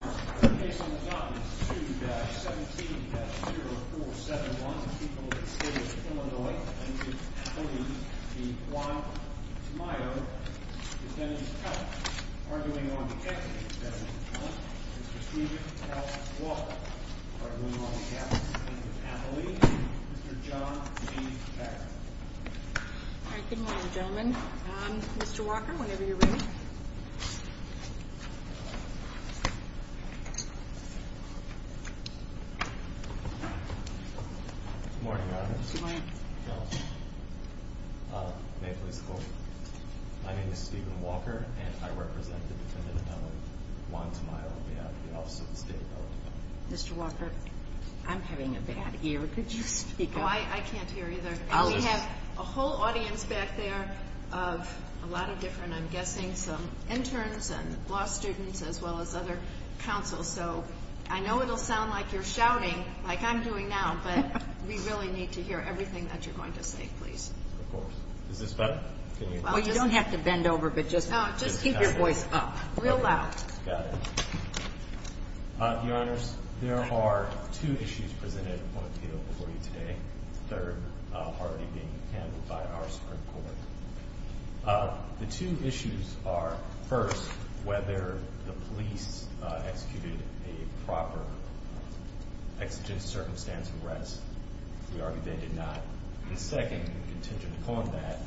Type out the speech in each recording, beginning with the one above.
The case on the docket is 2-17-0471. The people of the state of Illinois, Lincoln, Appalachia v. Juan Tamayo, defendant's cousin, arguing on behalf of the defendant's cousin, Mr. Steven L. Walker, arguing on behalf of Lincoln, Appalachia, Mr. John G. Packer. All right, good morning, gentlemen. Mr. Walker, whenever you're ready. Good morning, Your Honor. Good morning. May it please the Court, my name is Steven Walker, and I represent the defendant of Illinois, Juan Tamayo, on behalf of the Office of the State of Illinois. Mr. Walker, I'm having a bad ear. Could you speak up? Oh, I can't hear either. We have a whole audience back there of a lot of different, I'm guessing, some interns and law students, as well as other counsels. So I know it will sound like you're shouting, like I'm doing now, but we really need to hear everything that you're going to say, please. Of course. Is this better? Well, you don't have to bend over, but just keep your voice up, real loud. Got it. Your Honors, there are two issues presented on appeal before you today. The third already being handled by our Supreme Court. The two issues are, first, whether the police executed a proper exigent circumstance arrest. We argue they did not. And second, contingent upon that,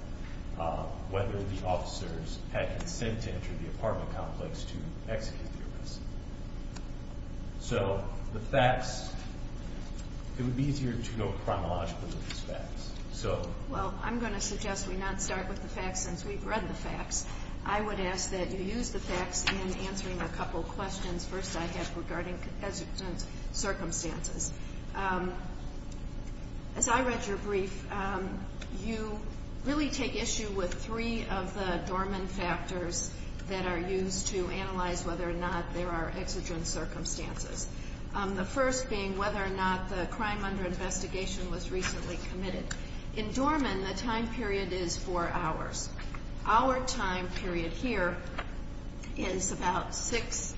whether the officers had consent to enter the apartment complex to execute the arrest. So the facts, it would be easier to go chronologically with these facts. Well, I'm going to suggest we not start with the facts since we've read the facts. I would ask that you use the facts in answering a couple of questions. First, I have regarding exigent circumstances. As I read your brief, you really take issue with three of the dormant factors that are used to analyze whether or not there are exigent circumstances. The first being whether or not the crime under investigation was recently committed. In dormant, the time period is four hours. Our time period here is about six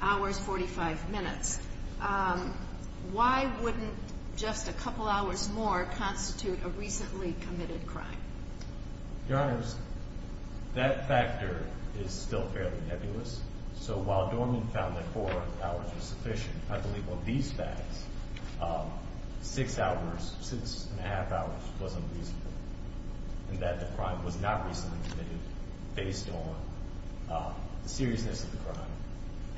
hours, 45 minutes. Why wouldn't just a couple hours more constitute a recently committed crime? Your Honors, that factor is still fairly nebulous. So while dormant found that four hours was sufficient, I believe on these facts, six hours, six and a half hours wasn't reasonable in that the crime was not recently committed based on the seriousness of the crime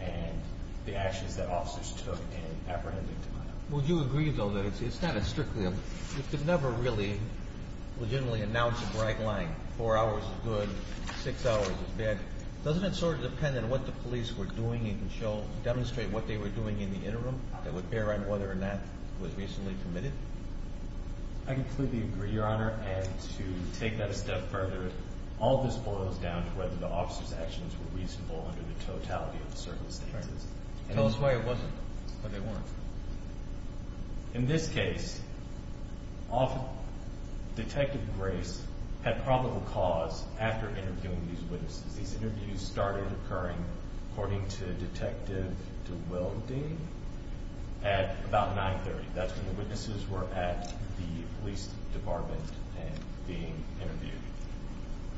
and the actions that officers took in apprehending the crime. Would you agree, though, that it's not a strictly a You could never really legitimately announce a bright line. Four hours is good, six hours is bad. Doesn't it sort of depend on what the police were doing and demonstrate what they were doing in the interim that would bear on whether or not it was recently committed? I completely agree, Your Honor, and to take that a step further, all of this boils down to whether the officers' actions were reasonable under the totality of the circumstances. Tell us why it wasn't, why they weren't. In this case, Detective Grace had probable cause after interviewing these witnesses. These interviews started occurring, according to Detective DeWilding, at about 9.30. That's when the witnesses were at the police department and being interviewed.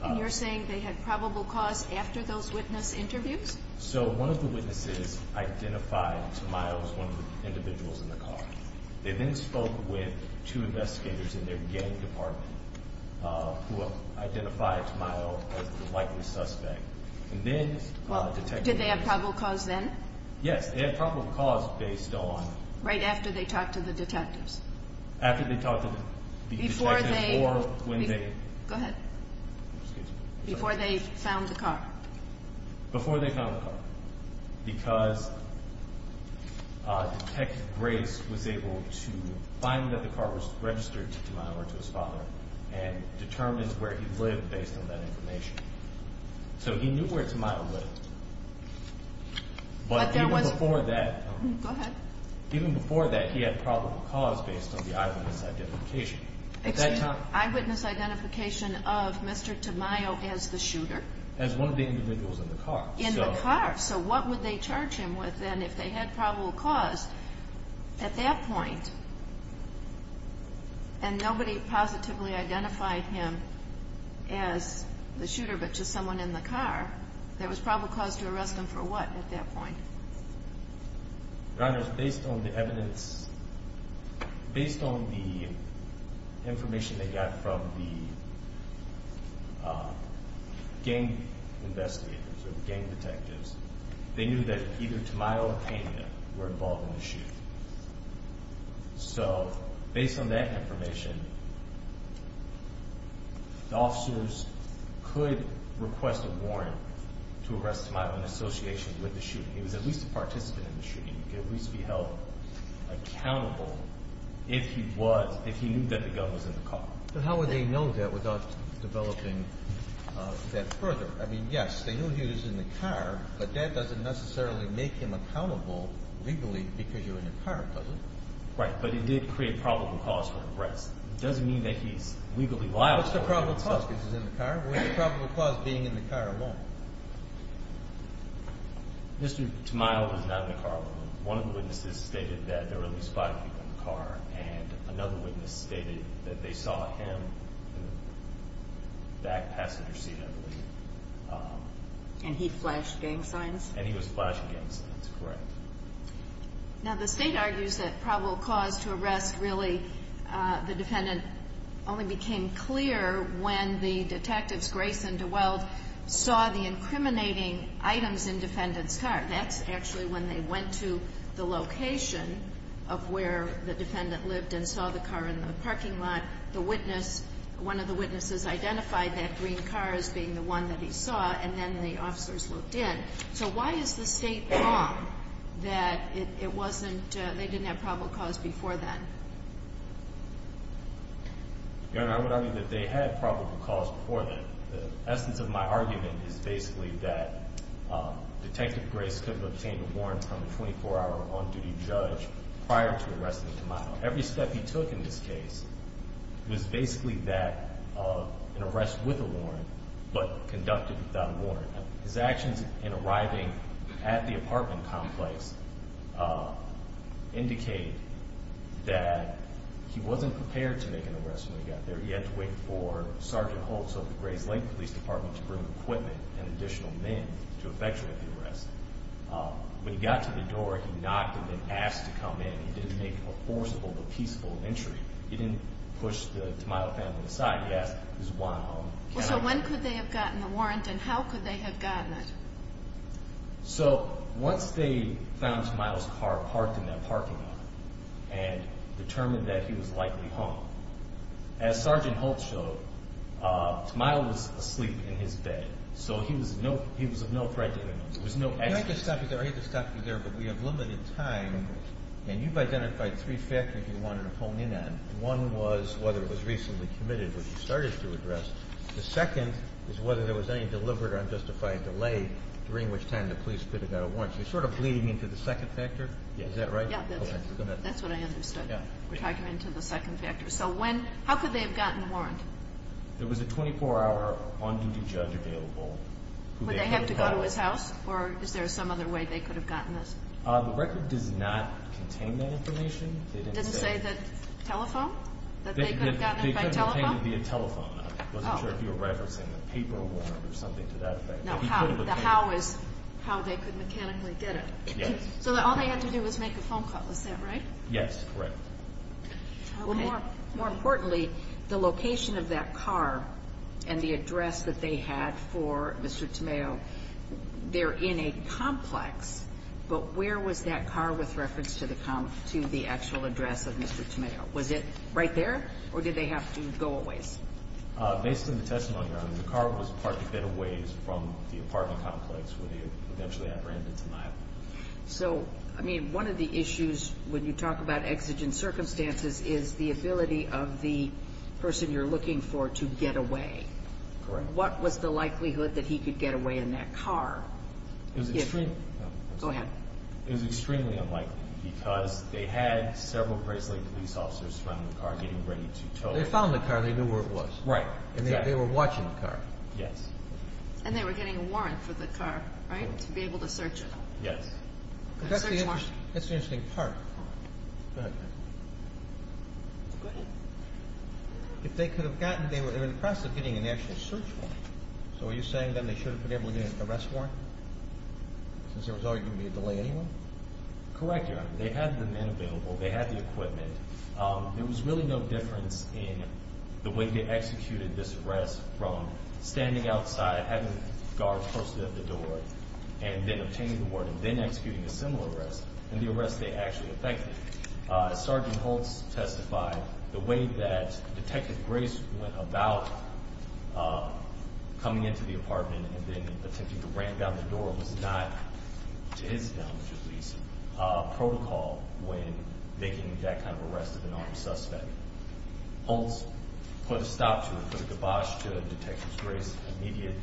And you're saying they had probable cause after those witness interviews? So one of the witnesses identified Tamayo as one of the individuals in the car. They then spoke with two investigators in their gang department who identified Tamayo as the likely suspect. Did they have probable cause then? Yes, they had probable cause based on Right after they talked to the detectives? After they talked to the detectives or when they Go ahead. Before they found the car. Before they found the car. Because Detective Grace was able to find that the car was registered to Tamayo or to his father and determined where he lived based on that information. So he knew where Tamayo lived. But even before that, Go ahead. Even before that, he had probable cause based on the eyewitness identification. Excuse me, eyewitness identification of Mr. Tamayo as the shooter? As one of the individuals in the car. In the car. So what would they charge him with then if they had probable cause at that point? And nobody positively identified him as the shooter but just someone in the car. There was probable cause to arrest him for what at that point? Runners, based on the evidence, based on the information they got from the gang investigators or the gang detectives, they knew that either Tamayo or Kania were involved in the shoot. So based on that information, the officers could request a warrant to arrest Tamayo in association with the shooting. He was at least a participant in the shooting. He could at least be held accountable if he knew that the gun was in the car. But how would they know that without developing that further? I mean, yes, they knew he was in the car, but that doesn't necessarily make him accountable legally because you're in a car, does it? Right, but he did create probable cause for arrest. It doesn't mean that he's legally liable. What's the probable cause because he's in the car? What's the probable cause being in the car alone? Mr. Tamayo was not in the car alone. One of the witnesses stated that there were at least five people in the car and another witness stated that they saw him in the back passenger seat, I believe. And he flashed gang signs? And he was flashing gang signs, correct. Now, the State argues that probable cause to arrest really, the defendant only became clear when the detectives, Grace and DeWald, saw the incriminating items in defendant's car. That's actually when they went to the location of where the defendant lived and saw the car in the parking lot. The witness, one of the witnesses identified that green car as being the one that he saw, and then the officers looked in. So why is the State wrong that it wasn't, they didn't have probable cause before then? Your Honor, I would argue that they had probable cause before then. The essence of my argument is basically that Detective Grace could have obtained a warrant from a 24-hour on-duty judge prior to arresting Tamayo. Every step he took in this case was basically that of an arrest with a warrant, but conducted without a warrant. His actions in arriving at the apartment complex indicated that he wasn't prepared to make an arrest when he got there. He had to wait for Sergeant Holtz of the Grace Lake Police Department to bring equipment and additional men to effectuate the arrest. When he got to the door, he knocked and then asked to come in. He didn't make a forcible but peaceful entry. He didn't push the Tamayo family aside. He asked, is Juan home? So when could they have gotten the warrant and how could they have gotten it? So once they found Tamayo's car parked in that parking lot and determined that he was likely home, as Sergeant Holtz showed, Tamayo was asleep in his bed. So he was of no threat to anyone. He had to stop you there, but we have limited time, and you've identified three factors you wanted to hone in on. One was whether it was recently committed, which you started to address. The second is whether there was any deliberate or unjustified delay during which time the police could have gotten a warrant. You're sort of bleeding into the second factor. Is that right? Yeah, that's what I understood. We're talking into the second factor. So when – how could they have gotten the warrant? There was a 24-hour on-duty judge available. Would they have to go to his house or is there some other way they could have gotten this? The record does not contain that information. It doesn't say the telephone? That they could have gotten it by telephone? It could contain it via telephone. I wasn't sure if you were referencing the paper warrant or something to that effect. The how is how they could mechanically get it. So all they had to do was make a phone call. Is that right? Yes, correct. Well, more importantly, the location of that car and the address that they had for Mr. Tamayo, they're in a complex, but where was that car with reference to the actual address of Mr. Tamayo? Was it right there or did they have to go a ways? Based on the testimony, Your Honor, the car was parked a bit a ways from the apartment complex where they eventually apprehended Tamayo. So, I mean, one of the issues when you talk about exigent circumstances is the ability of the person you're looking for to get away. Correct. What was the likelihood that he could get away in that car? Go ahead. It was extremely unlikely because they had several bracelet police officers around the car getting ready to tow it. They found the car. They knew where it was. Right, exactly. And they were watching the car. Yes. And they were getting a warrant for the car, right, to be able to search it. Yes. A search warrant. That's the interesting part. Go ahead. Go ahead. If they could have gotten it, they were impressed of getting an actual search warrant. So are you saying then they should have been able to get an arrest warrant since there was already going to be a delay anyway? Correct, Your Honor. They had the men available. They had the equipment. There was really no difference in the way they executed this arrest from standing outside having guards posted at the door and then obtaining the warrant and then executing a similar arrest and the arrest they actually effected. Sergeant Holtz testified the way that Detective Grace went about coming into the apartment and then attempting to ram down the door was not, to his knowledge at least, a protocol when making that kind of arrest of an armed suspect. Holtz put a stop to it, put a kibosh to Detective Grace's immediate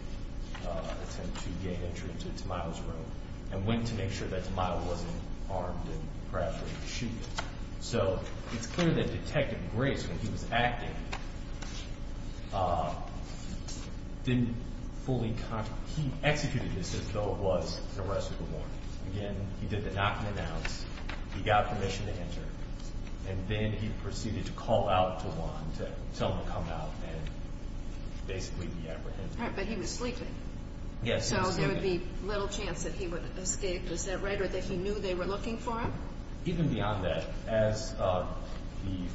attempt to gain entry into Tamayo's room and went to make sure that Tamayo wasn't armed and perhaps ready to shoot him. So it's clear that Detective Grace, when he was acting, didn't fully concentrate. He executed this as though it was an arrest warrant. Again, he did the knock and announce. He got permission to enter. And then he proceeded to call out to Juan to tell him to come out and basically be apprehended. But he was sleeping. Yes, he was sleeping. So there would be little chance that he would escape. Is that right or that he knew they were looking for him? Even beyond that, as the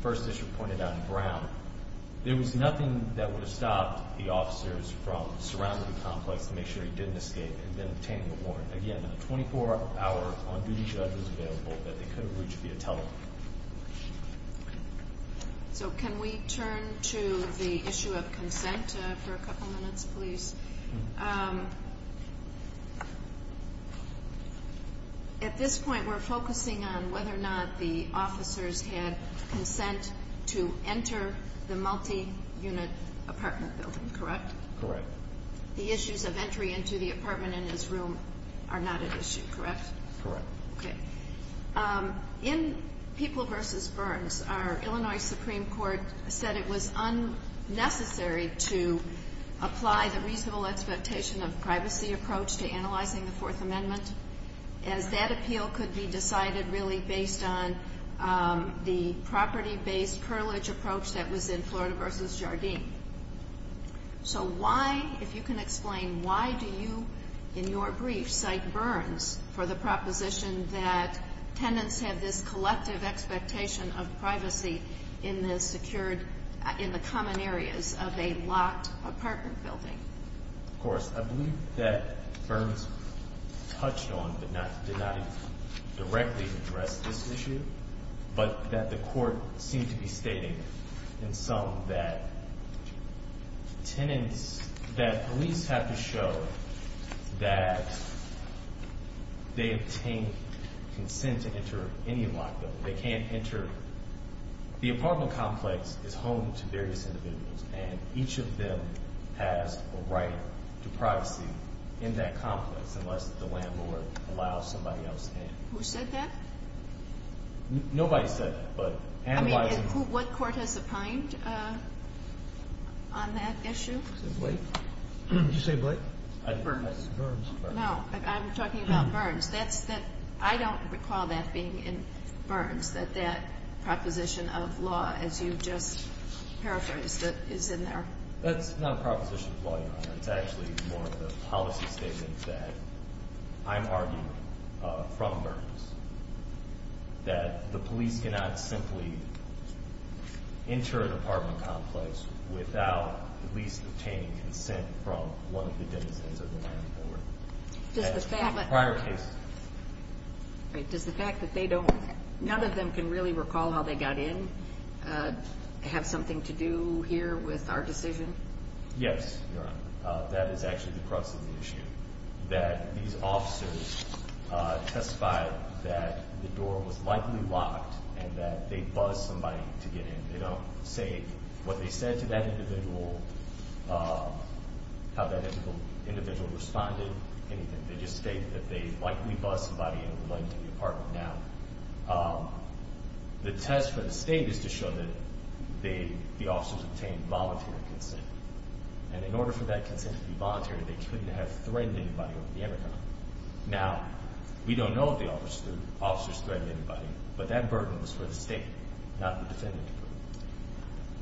First District pointed out in Brown, there was nothing that would have stopped the officers from surrounding the complex to make sure he didn't escape and then obtaining the warrant. Again, a 24-hour on-duty judge was available that they could have reached via telephone. So can we turn to the issue of consent for a couple minutes, please? At this point, we're focusing on whether or not the officers had consent to enter the multi-unit apartment building, correct? Correct. The issues of entry into the apartment in his room are not an issue, correct? Correct. Okay. In People v. Burns, our Illinois Supreme Court said it was unnecessary to apply the reasonable expectation of privacy approach to analyzing the Fourth Amendment, as that appeal could be decided really based on the property-based purlage approach that was in Florida v. Jardim. So why, if you can explain, why do you, in your brief, cite Burns in the common areas of a locked apartment building? Of course. I believe that Burns touched on but did not directly address this issue, but that the court seemed to be stating in some that tenants, that police have to show that they obtain consent to enter any locked building. The apartment complex is home to various individuals, and each of them has a right to privacy in that complex unless the landlord allows somebody else in. Who said that? Nobody said that. What court has opined on that issue? Did you say Blake? Burns. No, I'm talking about Burns. I don't recall that being in Burns, that that proposition of law, as you just paraphrased it, is in there. That's not a proposition of law, Your Honor. It's actually more of a policy statement that I'm arguing from Burns, that the police cannot simply enter an apartment complex without at least obtaining consent from one of the denizens of the landlord. Does the fact that they don't, none of them can really recall how they got in, have something to do here with our decision? Yes, Your Honor. That is actually the crux of the issue, that these officers testified that the door was likely locked and that they buzzed somebody to get in. They don't say what they said to that individual, how that individual responded, anything. They just state that they likely buzzed somebody into going to the apartment. Now, the test for the State is to show that the officers obtained voluntary consent, and in order for that consent to be voluntary, they couldn't have threatened anybody over the intercom. Now, we don't know if the officers threatened anybody, but that burden was for the State, not the defendant.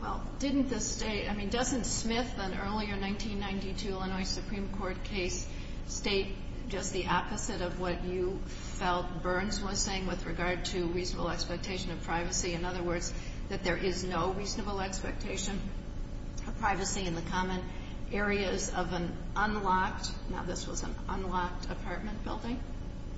Well, didn't the State, I mean, doesn't Smith in an earlier 1992 Illinois Supreme Court case state just the opposite of what you felt Burns was saying with regard to reasonable expectation of privacy? In other words, that there is no reasonable expectation of privacy in the common areas of an unlocked, now this was an unlocked apartment building?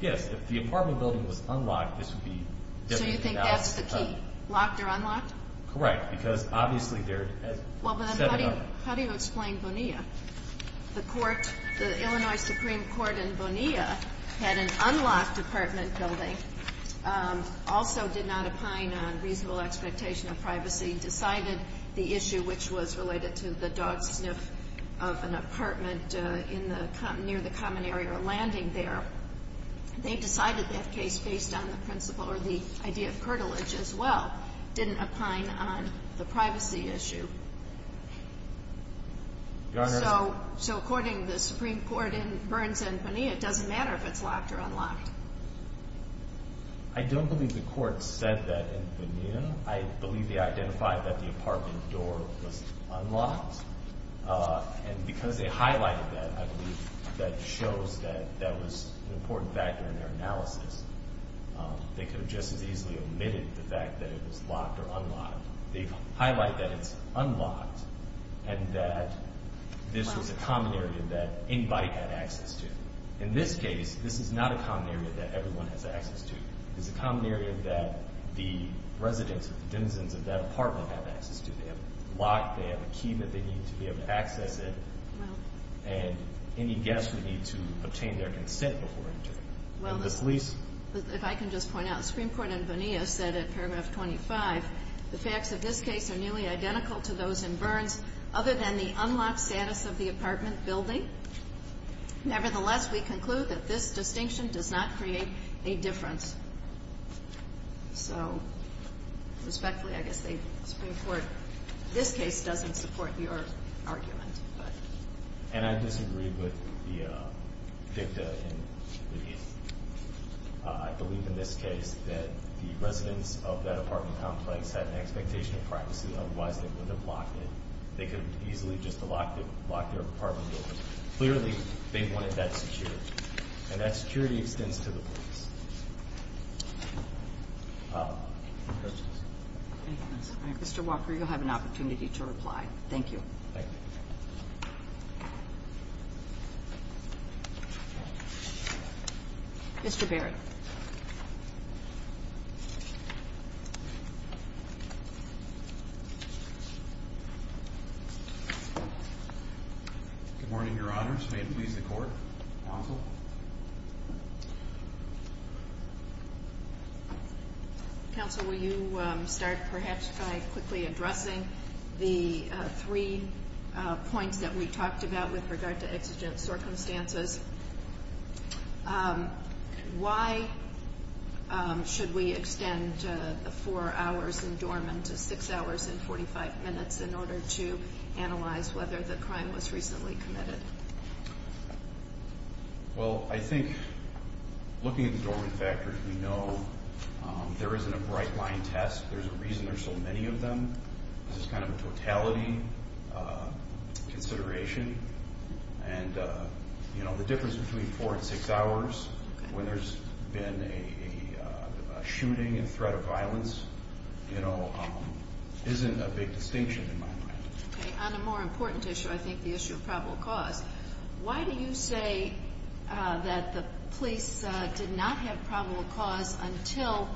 Yes. If the apartment building was unlocked, this would be definitely allowed. So you think that's the key? Locked or unlocked? Correct, because obviously there is a set amount. Well, then how do you explain Bonilla? The court, the Illinois Supreme Court in Bonilla, had an unlocked apartment building, also did not opine on reasonable expectation of privacy, decided the issue which was related to the dog sniff of an apartment near the common area or landing there. They decided that case based on the principle or the idea of curtilage as well, didn't opine on the privacy issue. So according to the Supreme Court in Burns and Bonilla, it doesn't matter if it's locked or unlocked. I don't believe the court said that in Bonilla. I believe they identified that the apartment door was unlocked, and because they highlighted that, I believe that shows that that was an important factor in their analysis. They could have just as easily omitted the fact that it was locked or unlocked. They highlight that it's unlocked, and that this was a common area that anybody had access to. In this case, this is not a common area that everyone has access to. It's a common area that the residents, the denizens of that apartment have access to. They have a lock, they have a key that they need to be able to access it, and any guest would need to obtain their consent before entering. Well, if I can just point out, the Supreme Court in Bonilla said in paragraph 25, the facts of this case are nearly identical to those in Burns other than the unlocked status of the apartment building. Nevertheless, we conclude that this distinction does not create a difference. So respectfully, I guess the Supreme Court in this case doesn't support your argument. And I disagree with the dicta in the case. I believe in this case that the residents of that apartment complex had an expectation of privacy, otherwise they wouldn't have locked it. They could have easily just locked their apartment doors. Clearly, they wanted that security, and that security extends to the police. Mr. Walker, you'll have an opportunity to reply. Thank you. Thank you. Thank you. Mr. Barrett. Good morning, Your Honors. May it please the Court? Counsel? Counsel, will you start perhaps by quickly addressing the three points that we talked about with regard to exigent circumstances? Why should we extend the four hours in dormant to six hours and 45 minutes in order to analyze whether the crime was recently committed? Well, I think looking at the dormant factors, we know there isn't a bright line test. There's a reason there's so many of them. This is kind of a totality consideration. And, you know, the difference between four and six hours, when there's been a shooting and threat of violence, you know, isn't a big distinction in my mind. Okay. On a more important issue, I think the issue of probable cause. Why do you say that the police did not have probable cause until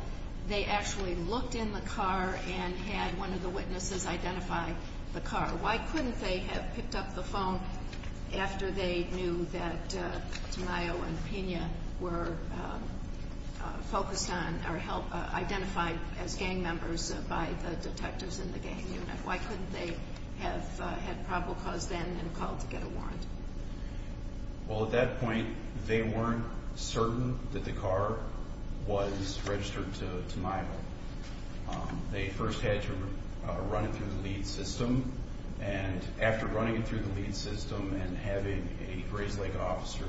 they actually looked in the car and had one of the witnesses identify the car? Why couldn't they have picked up the phone after they knew that Tamayo and Pina were focused on or identified as gang members by the detectives in the gang unit? Why couldn't they have had probable cause then and called to get a warrant? Well, at that point, they weren't certain that the car was registered to Tamayo. They first had to run it through the lead system, and after running it through the lead system and having a Grayslake officer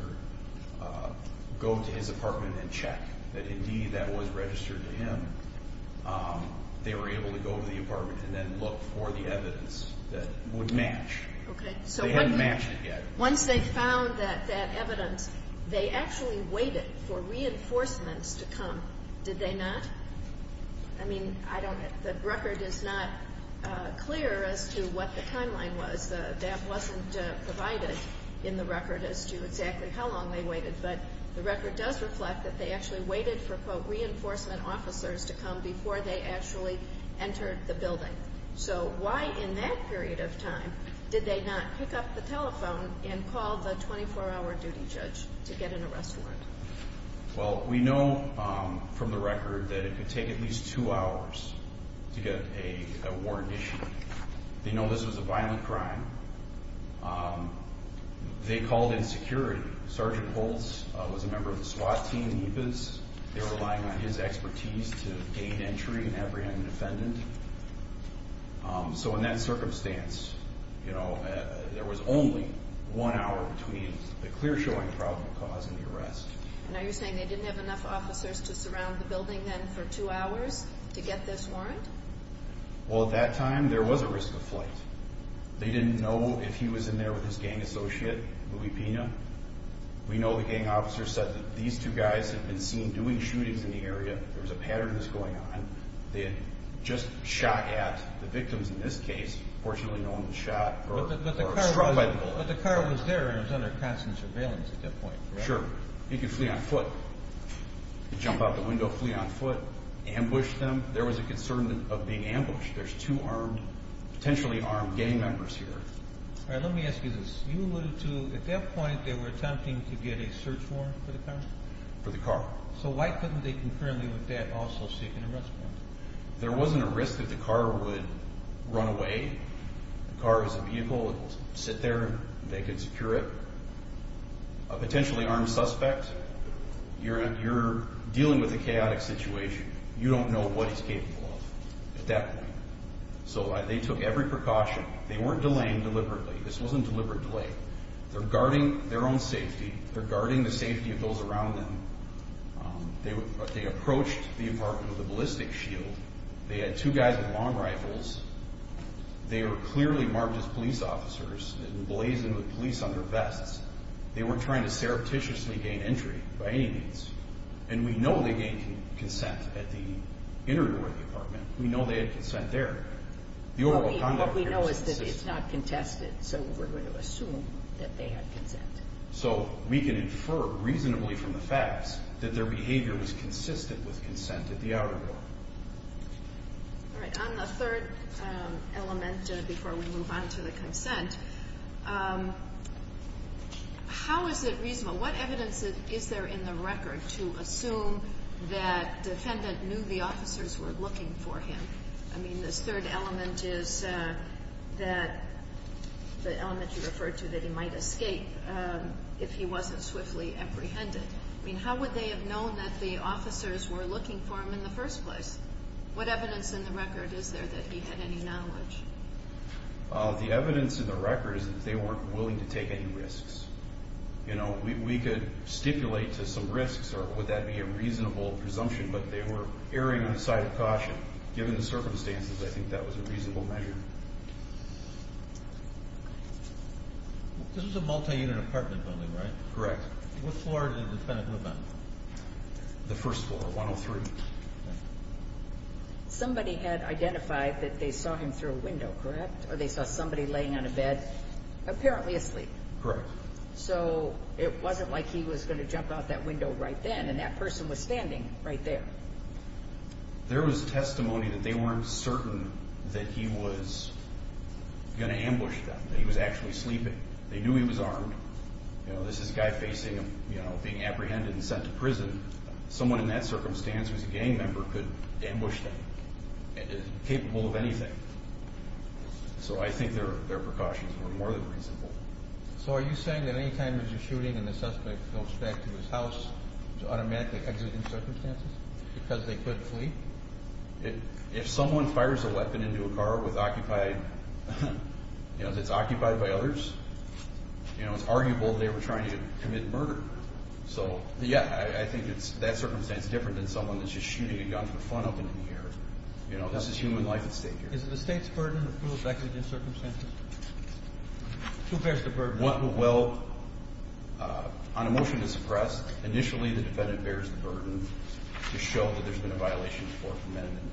go to his apartment and check that, indeed, that was registered to him, they were able to go to the apartment and then look for the evidence that would match. Okay. They hadn't matched it yet. Once they found that evidence, they actually waited for reinforcements to come, did they not? I mean, I don't know. The record is not clear as to what the timeline was. That wasn't provided in the record as to exactly how long they waited, but the record does reflect that they actually waited for, quote, reinforcement officers to come before they actually entered the building. So why, in that period of time, did they not pick up the telephone and call the 24-hour duty judge to get an arrest warrant? Well, we know from the record that it could take at least two hours to get a warrant issued. They know this was a violent crime. They called in security. Sergeant Holtz was a member of the SWAT team in Yves. They were relying on his expertise to gain entry and apprehend the defendant. So in that circumstance, you know, there was only one hour between the clear-showing problem causing the arrest. Now you're saying they didn't have enough officers to surround the building then for two hours to get this warrant? Well, at that time, there was a risk of flight. They didn't know if he was in there with his gang associate, Louie Pina. We know the gang officer said that these two guys had been seen doing shootings in the area. There was a pattern that was going on. They had just shot at the victims in this case. Fortunately, no one was shot or struck by the bullet. But the car was there and it was under constant surveillance at that point, correct? Sure. He could flee on foot. He could jump out the window, flee on foot, ambush them. There was a concern of being ambushed. There's two armed, potentially armed gang members here. All right, let me ask you this. You alluded to, at that point, they were attempting to get a search warrant for the car? For the car. So why couldn't they concurrently with that also seek an arrest warrant? There wasn't a risk that the car would run away. The car is a vehicle. It will sit there and they could secure it. A potentially armed suspect, you're dealing with a chaotic situation. You don't know what he's capable of at that point. So they took every precaution. They weren't delaying deliberately. This wasn't deliberate delay. They're guarding their own safety. They're guarding the safety of those around them. They approached the apartment with a ballistic shield. They had two guys with long rifles. They were clearly marked as police officers and blazing with police under vests. They weren't trying to surreptitiously gain entry by any means. And we know they gained consent at the inner door of the apartment. We know they had consent there. What we know is that it's not contested. So we're going to assume that they had consent. So we can infer reasonably from the facts that their behavior was consistent with consent at the outer door. All right. On the third element before we move on to the consent, how is it reasonable? What evidence is there in the record to assume that defendant knew the officers were looking for him? I mean, this third element is the element you referred to, that he might escape if he wasn't swiftly apprehended. I mean, how would they have known that the officers were looking for him in the first place? What evidence in the record is there that he had any knowledge? The evidence in the record is that they weren't willing to take any risks. You know, we could stipulate to some risks, or would that be a reasonable presumption, but they were erring on the side of caution. Given the circumstances, I think that was a reasonable measure. This was a multi-unit apartment building, right? Correct. What floor did the defendant live on? The first floor, 103. Somebody had identified that they saw him through a window, correct? Or they saw somebody laying on a bed, apparently asleep. Correct. So it wasn't like he was going to jump out that window right then, and that person was standing right there. There was testimony that they weren't certain that he was going to ambush them, that he was actually sleeping. They knew he was armed. You know, this is a guy being apprehended and sent to prison. Someone in that circumstance who's a gang member could ambush them, capable of anything. So I think their precautions were more than reasonable. So are you saying that any time there's a shooting and the suspect goes back to his house, it's automatically exigent circumstances because they couldn't flee? If someone fires a weapon into a car that's occupied by others, it's arguable they were trying to commit murder. So, yeah, I think that circumstance is different than someone that's just shooting a gun for fun up in here. You know, this is human life at stake here. Is it the state's burden to prove exigent circumstances? Who bears the burden? Well, on a motion to suppress, initially the defendant bears the burden to show that there's been a violation of the Fourth Amendment.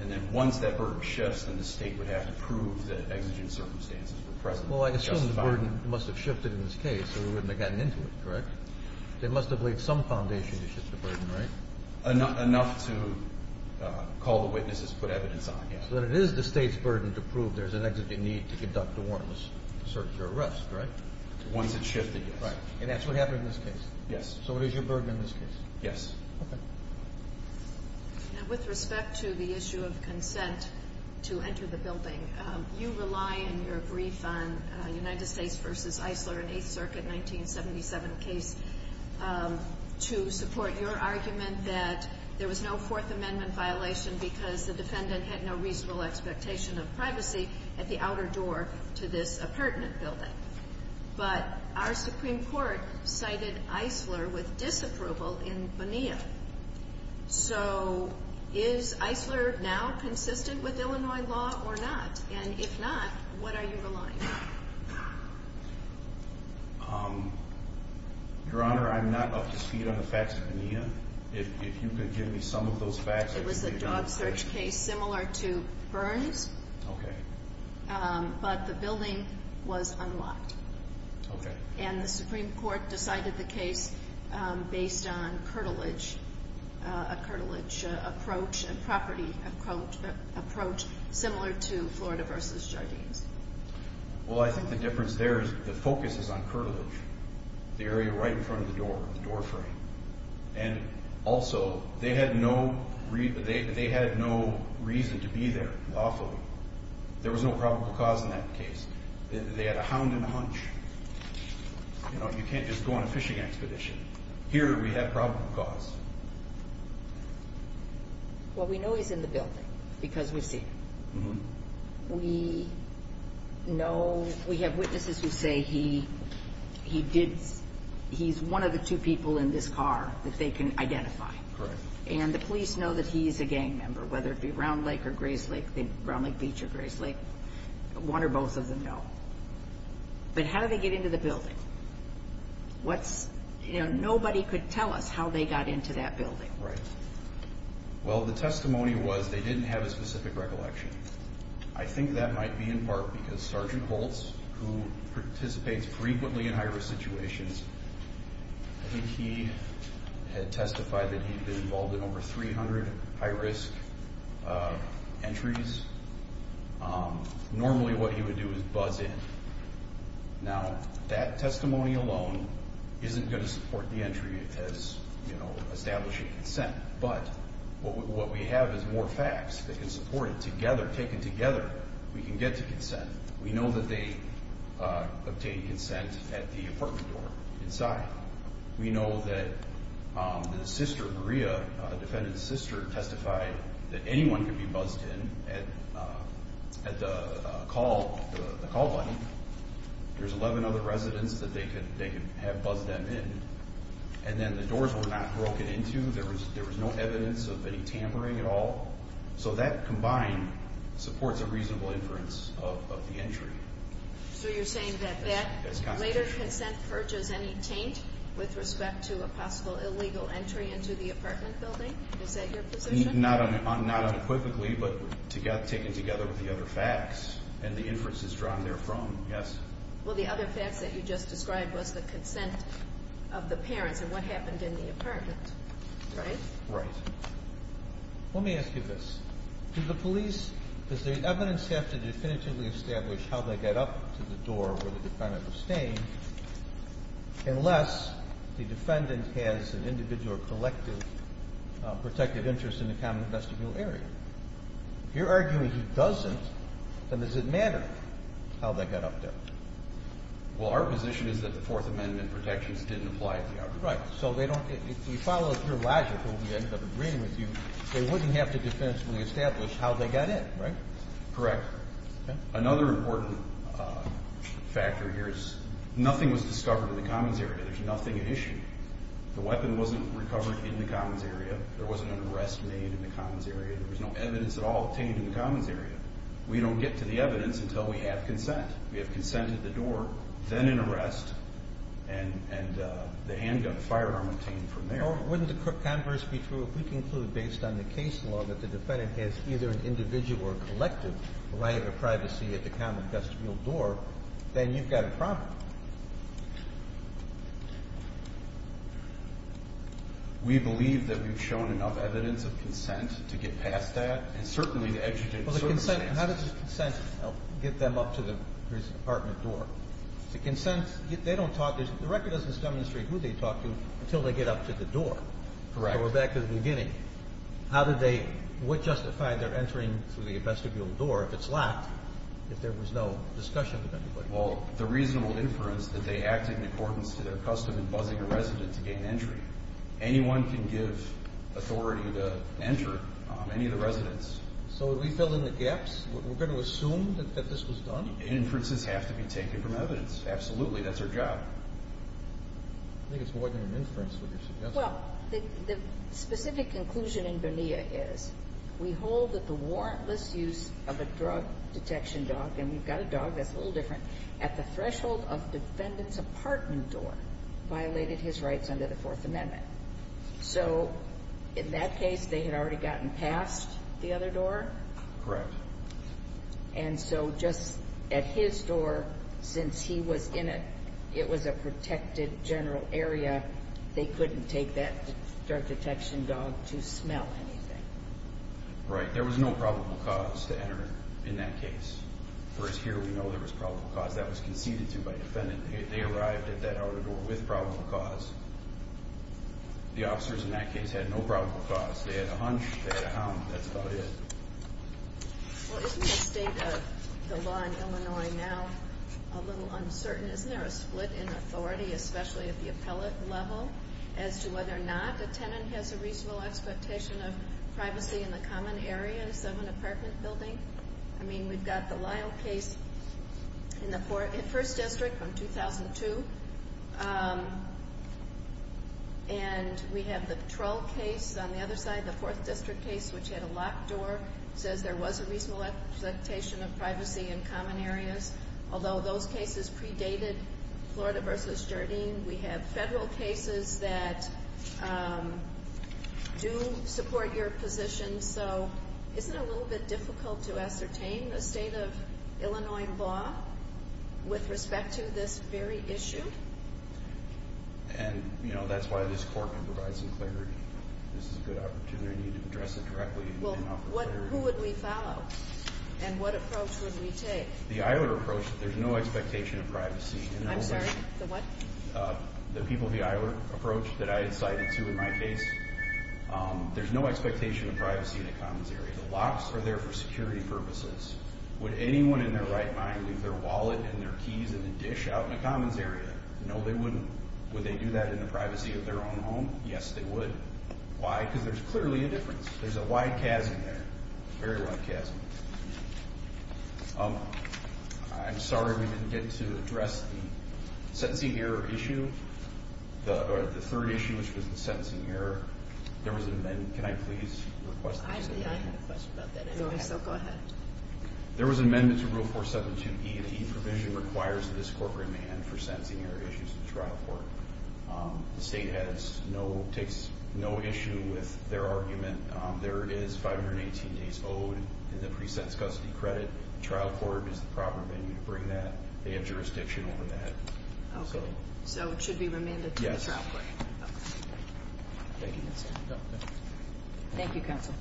And then once that burden shifts, then the state would have to prove that exigent circumstances were present. Well, I assume the burden must have shifted in this case, or they wouldn't have gotten into it, correct? They must have laid some foundation to shift the burden, right? Enough to call the witnesses and put evidence on, yes. So then it is the state's burden to prove there's an exigent need to conduct a warrantless search or arrest, right? Once it's shifted, yes. And that's what happened in this case? Yes. So it is your burden in this case? Yes. Okay. Now, with respect to the issue of consent to enter the building, you rely in your brief on United States v. Eisler in Eighth Circuit, 1977 case, to support your argument that there was no Fourth Amendment violation because the defendant had no reasonable expectation of privacy at the outer door to this appurtenant building. But our Supreme Court cited Eisler with disapproval in Bonilla. So is Eisler now consistent with Illinois law or not? And if not, what are you relying on? Your Honor, I'm not up to speed on the facts of Bonilla. If you could give me some of those facts. It was a job search case similar to Burns. Okay. But the building was unlocked. Okay. And the Supreme Court decided the case based on a curtilage approach, a property approach similar to Florida v. Jardines. Well, I think the difference there is the focus is on curtilage, the area right in front of the door, the door frame. And also, they had no reason to be there lawfully. There was no probable cause in that case. They had a hound and a hunch. You know, you can't just go on a fishing expedition. Here we have probable cause. Well, we know he's in the building because we've seen him. We know we have witnesses who say he did – he's one of the two people in this car that they can identify. Correct. And the police know that he's a gang member, whether it be Round Lake or Grayslake, Round Lake Beach or Grayslake. One or both of them know. But how did they get into the building? What's – you know, nobody could tell us how they got into that building. Right. Well, the testimony was they didn't have a specific recollection. I think that might be in part because Sergeant Holtz, who participates frequently in high-risk situations, I think he had testified that he'd been involved in over 300 high-risk entries. Normally what he would do is buzz in. Now, that testimony alone isn't going to support the entry as establishing consent. But what we have is more facts that can support it together. Taken together, we can get to consent. We know that they obtained consent at the apartment door inside. We know that the sister, Maria, defendant's sister, testified that anyone could be buzzed in at the call button. There's 11 other residents that they could have buzzed them in. And then the doors were not broken into. There was no evidence of any tampering at all. So that combined supports a reasonable inference of the entry. So you're saying that that later consent purges any taint with respect to a possible illegal entry into the apartment building? Is that your position? Not unequivocally, but taken together with the other facts. And the inference is drawn therefrom, yes. Well, the other facts that you just described was the consent of the parents and what happened in the apartment, right? Right. Let me ask you this. Do the police, does the evidence have to definitively establish how they got up to the door where the defendant was staying unless the defendant has an individual or collective protective interest in the common vestibule area? If you're arguing he doesn't, then does it matter how they got up there? Well, our position is that the Fourth Amendment protections didn't apply to the apartment. Right. So if you follow your logic when we ended up agreeing with you, they wouldn't have to definitively establish how they got in, right? Correct. Another important factor here is nothing was discovered in the commons area. There's nothing at issue. The weapon wasn't recovered in the commons area. There wasn't an arrest made in the commons area. There was no evidence at all obtained in the commons area. We don't get to the evidence until we have consent. We have consent at the door, then an arrest, and the handgun firearm obtained from there. Or wouldn't the converse be true if we conclude based on the case law that the defendant has either an individual or collective right of privacy at the common vestibule door, then you've got a problem. We believe that we've shown enough evidence of consent to get past that and certainly to educate the circumstances. How does this consent get them up to the prison apartment door? The consent, they don't talk. The record doesn't demonstrate who they talk to until they get up to the door. Correct. So we're back to the beginning. How did they justify their entering through the vestibule door if it's locked, if there was no discussion with anybody? Well, the reasonable inference that they acted in accordance to their custom in buzzing a resident to gain entry. Anyone can give authority to enter, any of the residents. So would we fill in the gaps? We're going to assume that this was done? Inferences have to be taken from evidence. Absolutely. That's our job. I think it's more than an inference with your suggestion. Well, the specific conclusion in Bonilla is we hold that the warrantless use of a drug detection dog, and we've got a dog that's a little different, at the threshold of defendant's apartment door violated his rights under the Fourth Amendment. So in that case, they had already gotten past the other door? Correct. And so just at his door, since he was in it, it was a protected general area, they couldn't take that drug detection dog to smell anything? Right. There was no probable cause to enter in that case. Whereas here we know there was probable cause. That was conceded to by defendant. They arrived at that other door with probable cause. The officers in that case had no probable cause. They had a hunch. They had a hum. That's about it. Well, isn't the state of the law in Illinois now a little uncertain? Isn't there a split in authority, especially at the appellate level, as to whether or not a tenant has a reasonable expectation of privacy in the common areas of an apartment building? I mean, we've got the Lyle case in the 1st District from 2002, and we have the Trull case on the other side, the 4th District case, which had a locked door. It says there was a reasonable expectation of privacy in common areas, although those cases predated Florida v. Jardim. We have federal cases that do support your position. So isn't it a little bit difficult to ascertain the state of Illinois law with respect to this very issue? And, you know, that's why this court provides some clarity. This is a good opportunity to address it directly and offer clarity. Well, who would we follow, and what approach would we take? The Eilert approach, there's no expectation of privacy. I'm sorry, the what? The people of the Eilert approach that I had cited to in my case. There's no expectation of privacy in the commons area. The locks are there for security purposes. Would anyone in their right mind leave their wallet and their keys and a dish out in the commons area? No, they wouldn't. Would they do that in the privacy of their own home? Yes, they would. Why? Because there's clearly a difference. There's a wide chasm there, a very wide chasm. I'm sorry we didn't get to address the sentencing error issue, or the third issue, which was the sentencing error. Can I please request an amendment? Actually, I have a question about that anyway, so go ahead. There was an amendment to Rule 472E. The E provision requires that this court remand for sentencing error issues to the trial court. The state takes no issue with their argument. There is 518 days owed in the pre-sense custody credit. The trial court is the proper venue to bring that. They have jurisdiction over that. Okay. So it should be remanded to the trial court. Yes. Thank you. Thank you, counsel.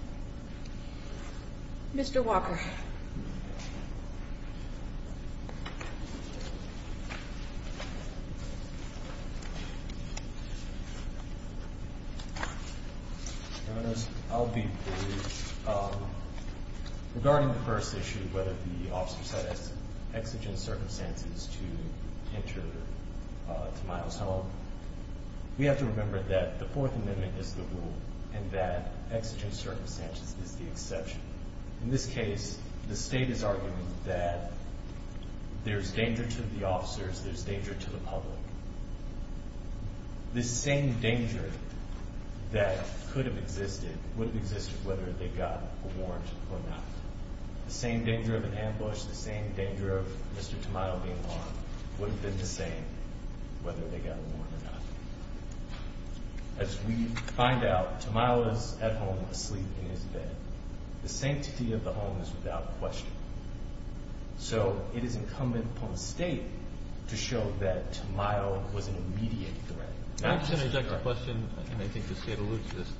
Mr. Walker. I'll be brief. Regarding the first issue, whether the officer set exigent circumstances to enter Tamayo's home, we have to remember that the Fourth Amendment is the rule and that exigent circumstances is the exception. In this case, the state is arguing that there's danger to the officers, there's danger to the public. The same danger that could have existed would have existed whether they got a warrant or not. The same danger of an ambush, the same danger of Mr. Tamayo being harmed, would have been the same whether they got a warrant or not. As we find out, Tamayo is at home asleep in his bed. The sanctity of the home is without question. So it is incumbent upon the state to show that Tamayo was an immediate threat. Can I interject a question? I think the state alludes to this.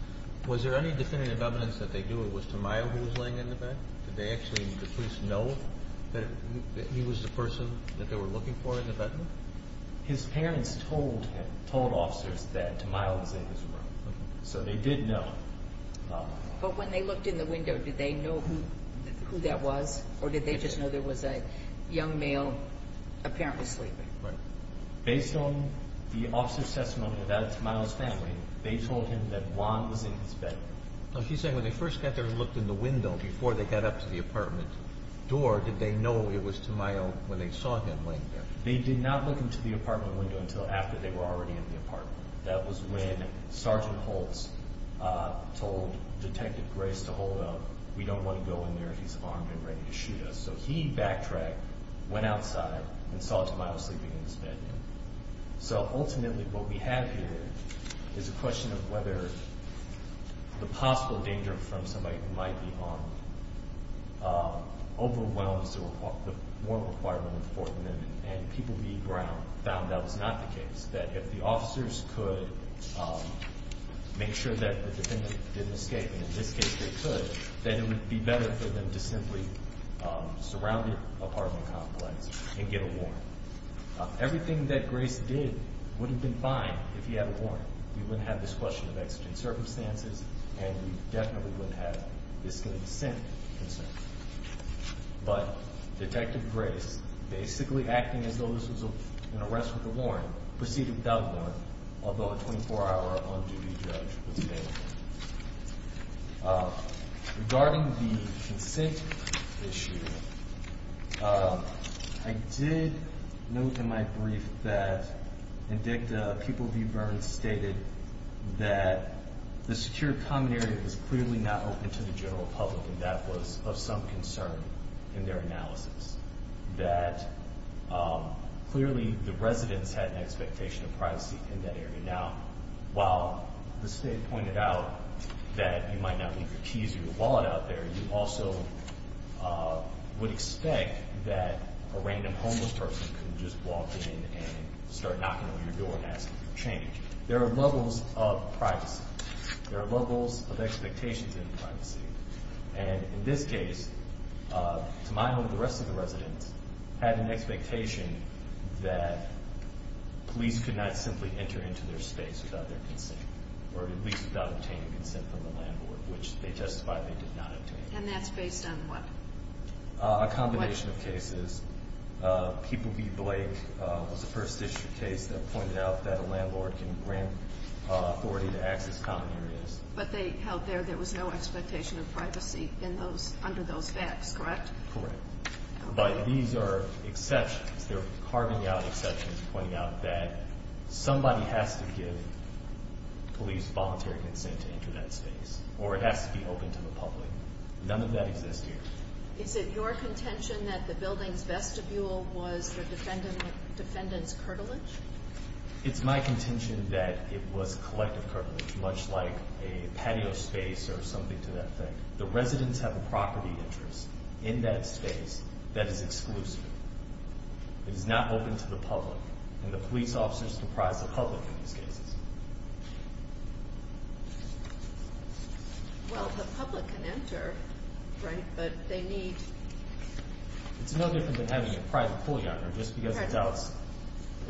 Was there any definitive evidence that they knew it was Tamayo who was laying in the bed? Did the police know that he was the person that they were looking for in the bedroom? His parents told him, told officers, that Tamayo was in his room. So they did know. But when they looked in the window, did they know who that was, or did they just know there was a young male apparently sleeping? Based on the officer's testimony about Tamayo's family, they told him that Juan was in his bed. She's saying when they first got there and looked in the window before they got up to the apartment door, did they know it was Tamayo when they saw him laying there? They did not look into the apartment window until after they were already in the apartment. That was when Sergeant Holtz told Detective Grace to hold up. We don't want to go in there. He's armed and ready to shoot us. So he backtracked, went outside, and saw Tamayo sleeping in his bed. So ultimately what we have here is a question of whether the possible danger from somebody who might be armed overwhelms the warrant requirement for them, and people being brown found that was not the case, that if the officers could make sure that the defendant didn't escape, and in this case they could, then it would be better for them to simply surround the apartment complex and get a warrant. Everything that Grace did would have been fine if he had a warrant. We wouldn't have this question of exigent circumstances, and we definitely wouldn't have this kind of dissent concern. But Detective Grace, basically acting as though this was an arrest with a warrant, proceeded without a warrant, although a 24-hour on-duty judge was made. Regarding the consent issue, I did note in my brief that Indicta Pupil V. Burns stated that the secure common area was clearly not open to the general public, and that was of some concern in their analysis, that clearly the residents had an expectation of privacy in that area. Now, while the state pointed out that you might not leave your keys or your wallet out there, you also would expect that a random homeless person could just walk in and start knocking on your door and asking for change. There are levels of privacy. There are levels of expectations in privacy. And in this case, to my knowledge, the rest of the residents had an expectation that police could not simply enter into their space without their consent, or at least without obtaining consent from the landlord, which they testified they did not obtain. And that's based on what? A combination of cases. Pupil V. Blake was the first issue case that pointed out that a landlord can grant authority to access common areas. But they held there there was no expectation of privacy under those facts, correct? Correct. But these are exceptions. They're carving out exceptions, pointing out that somebody has to give police voluntary consent to enter that space, or it has to be open to the public. None of that exists here. Is it your contention that the building's vestibule was the defendant's curtilage? It's my contention that it was collective curtilage, much like a patio space or something to that effect. The residents have a property interest in that space that is exclusive. It is not open to the public, and the police officers comprise the public in these cases. Well, the public can enter, but they need... It's no different than having a private pool yard or just because it's outside.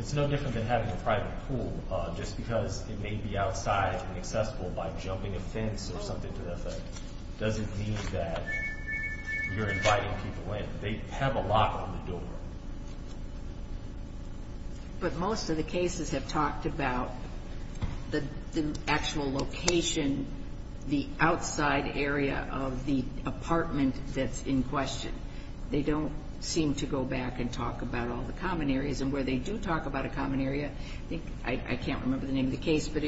It's no different than having a private pool just because it may be outside and accessible by jumping a fence or something to that effect. It doesn't mean that you're inviting people in. They have a lock on the door. But most of the cases have talked about the actual location, the outside area of the apartment that's in question. They don't seem to go back and talk about all the common areas. And where they do talk about a common area, I can't remember the name of the case, but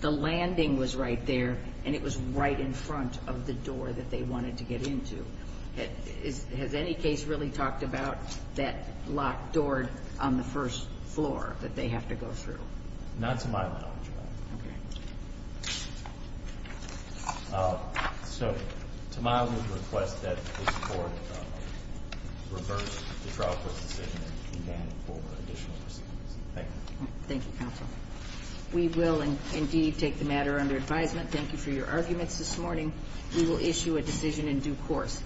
the landing was right there, and it was right in front of the door that they wanted to get into. Has any case really talked about that locked door on the first floor that they have to go through? Okay. So, to my request that the court reverse the trial court's decision and demand for additional proceedings. Thank you. Thank you, counsel. We will indeed take the matter under advisement. Thank you for your arguments this morning. We will issue a decision in due course.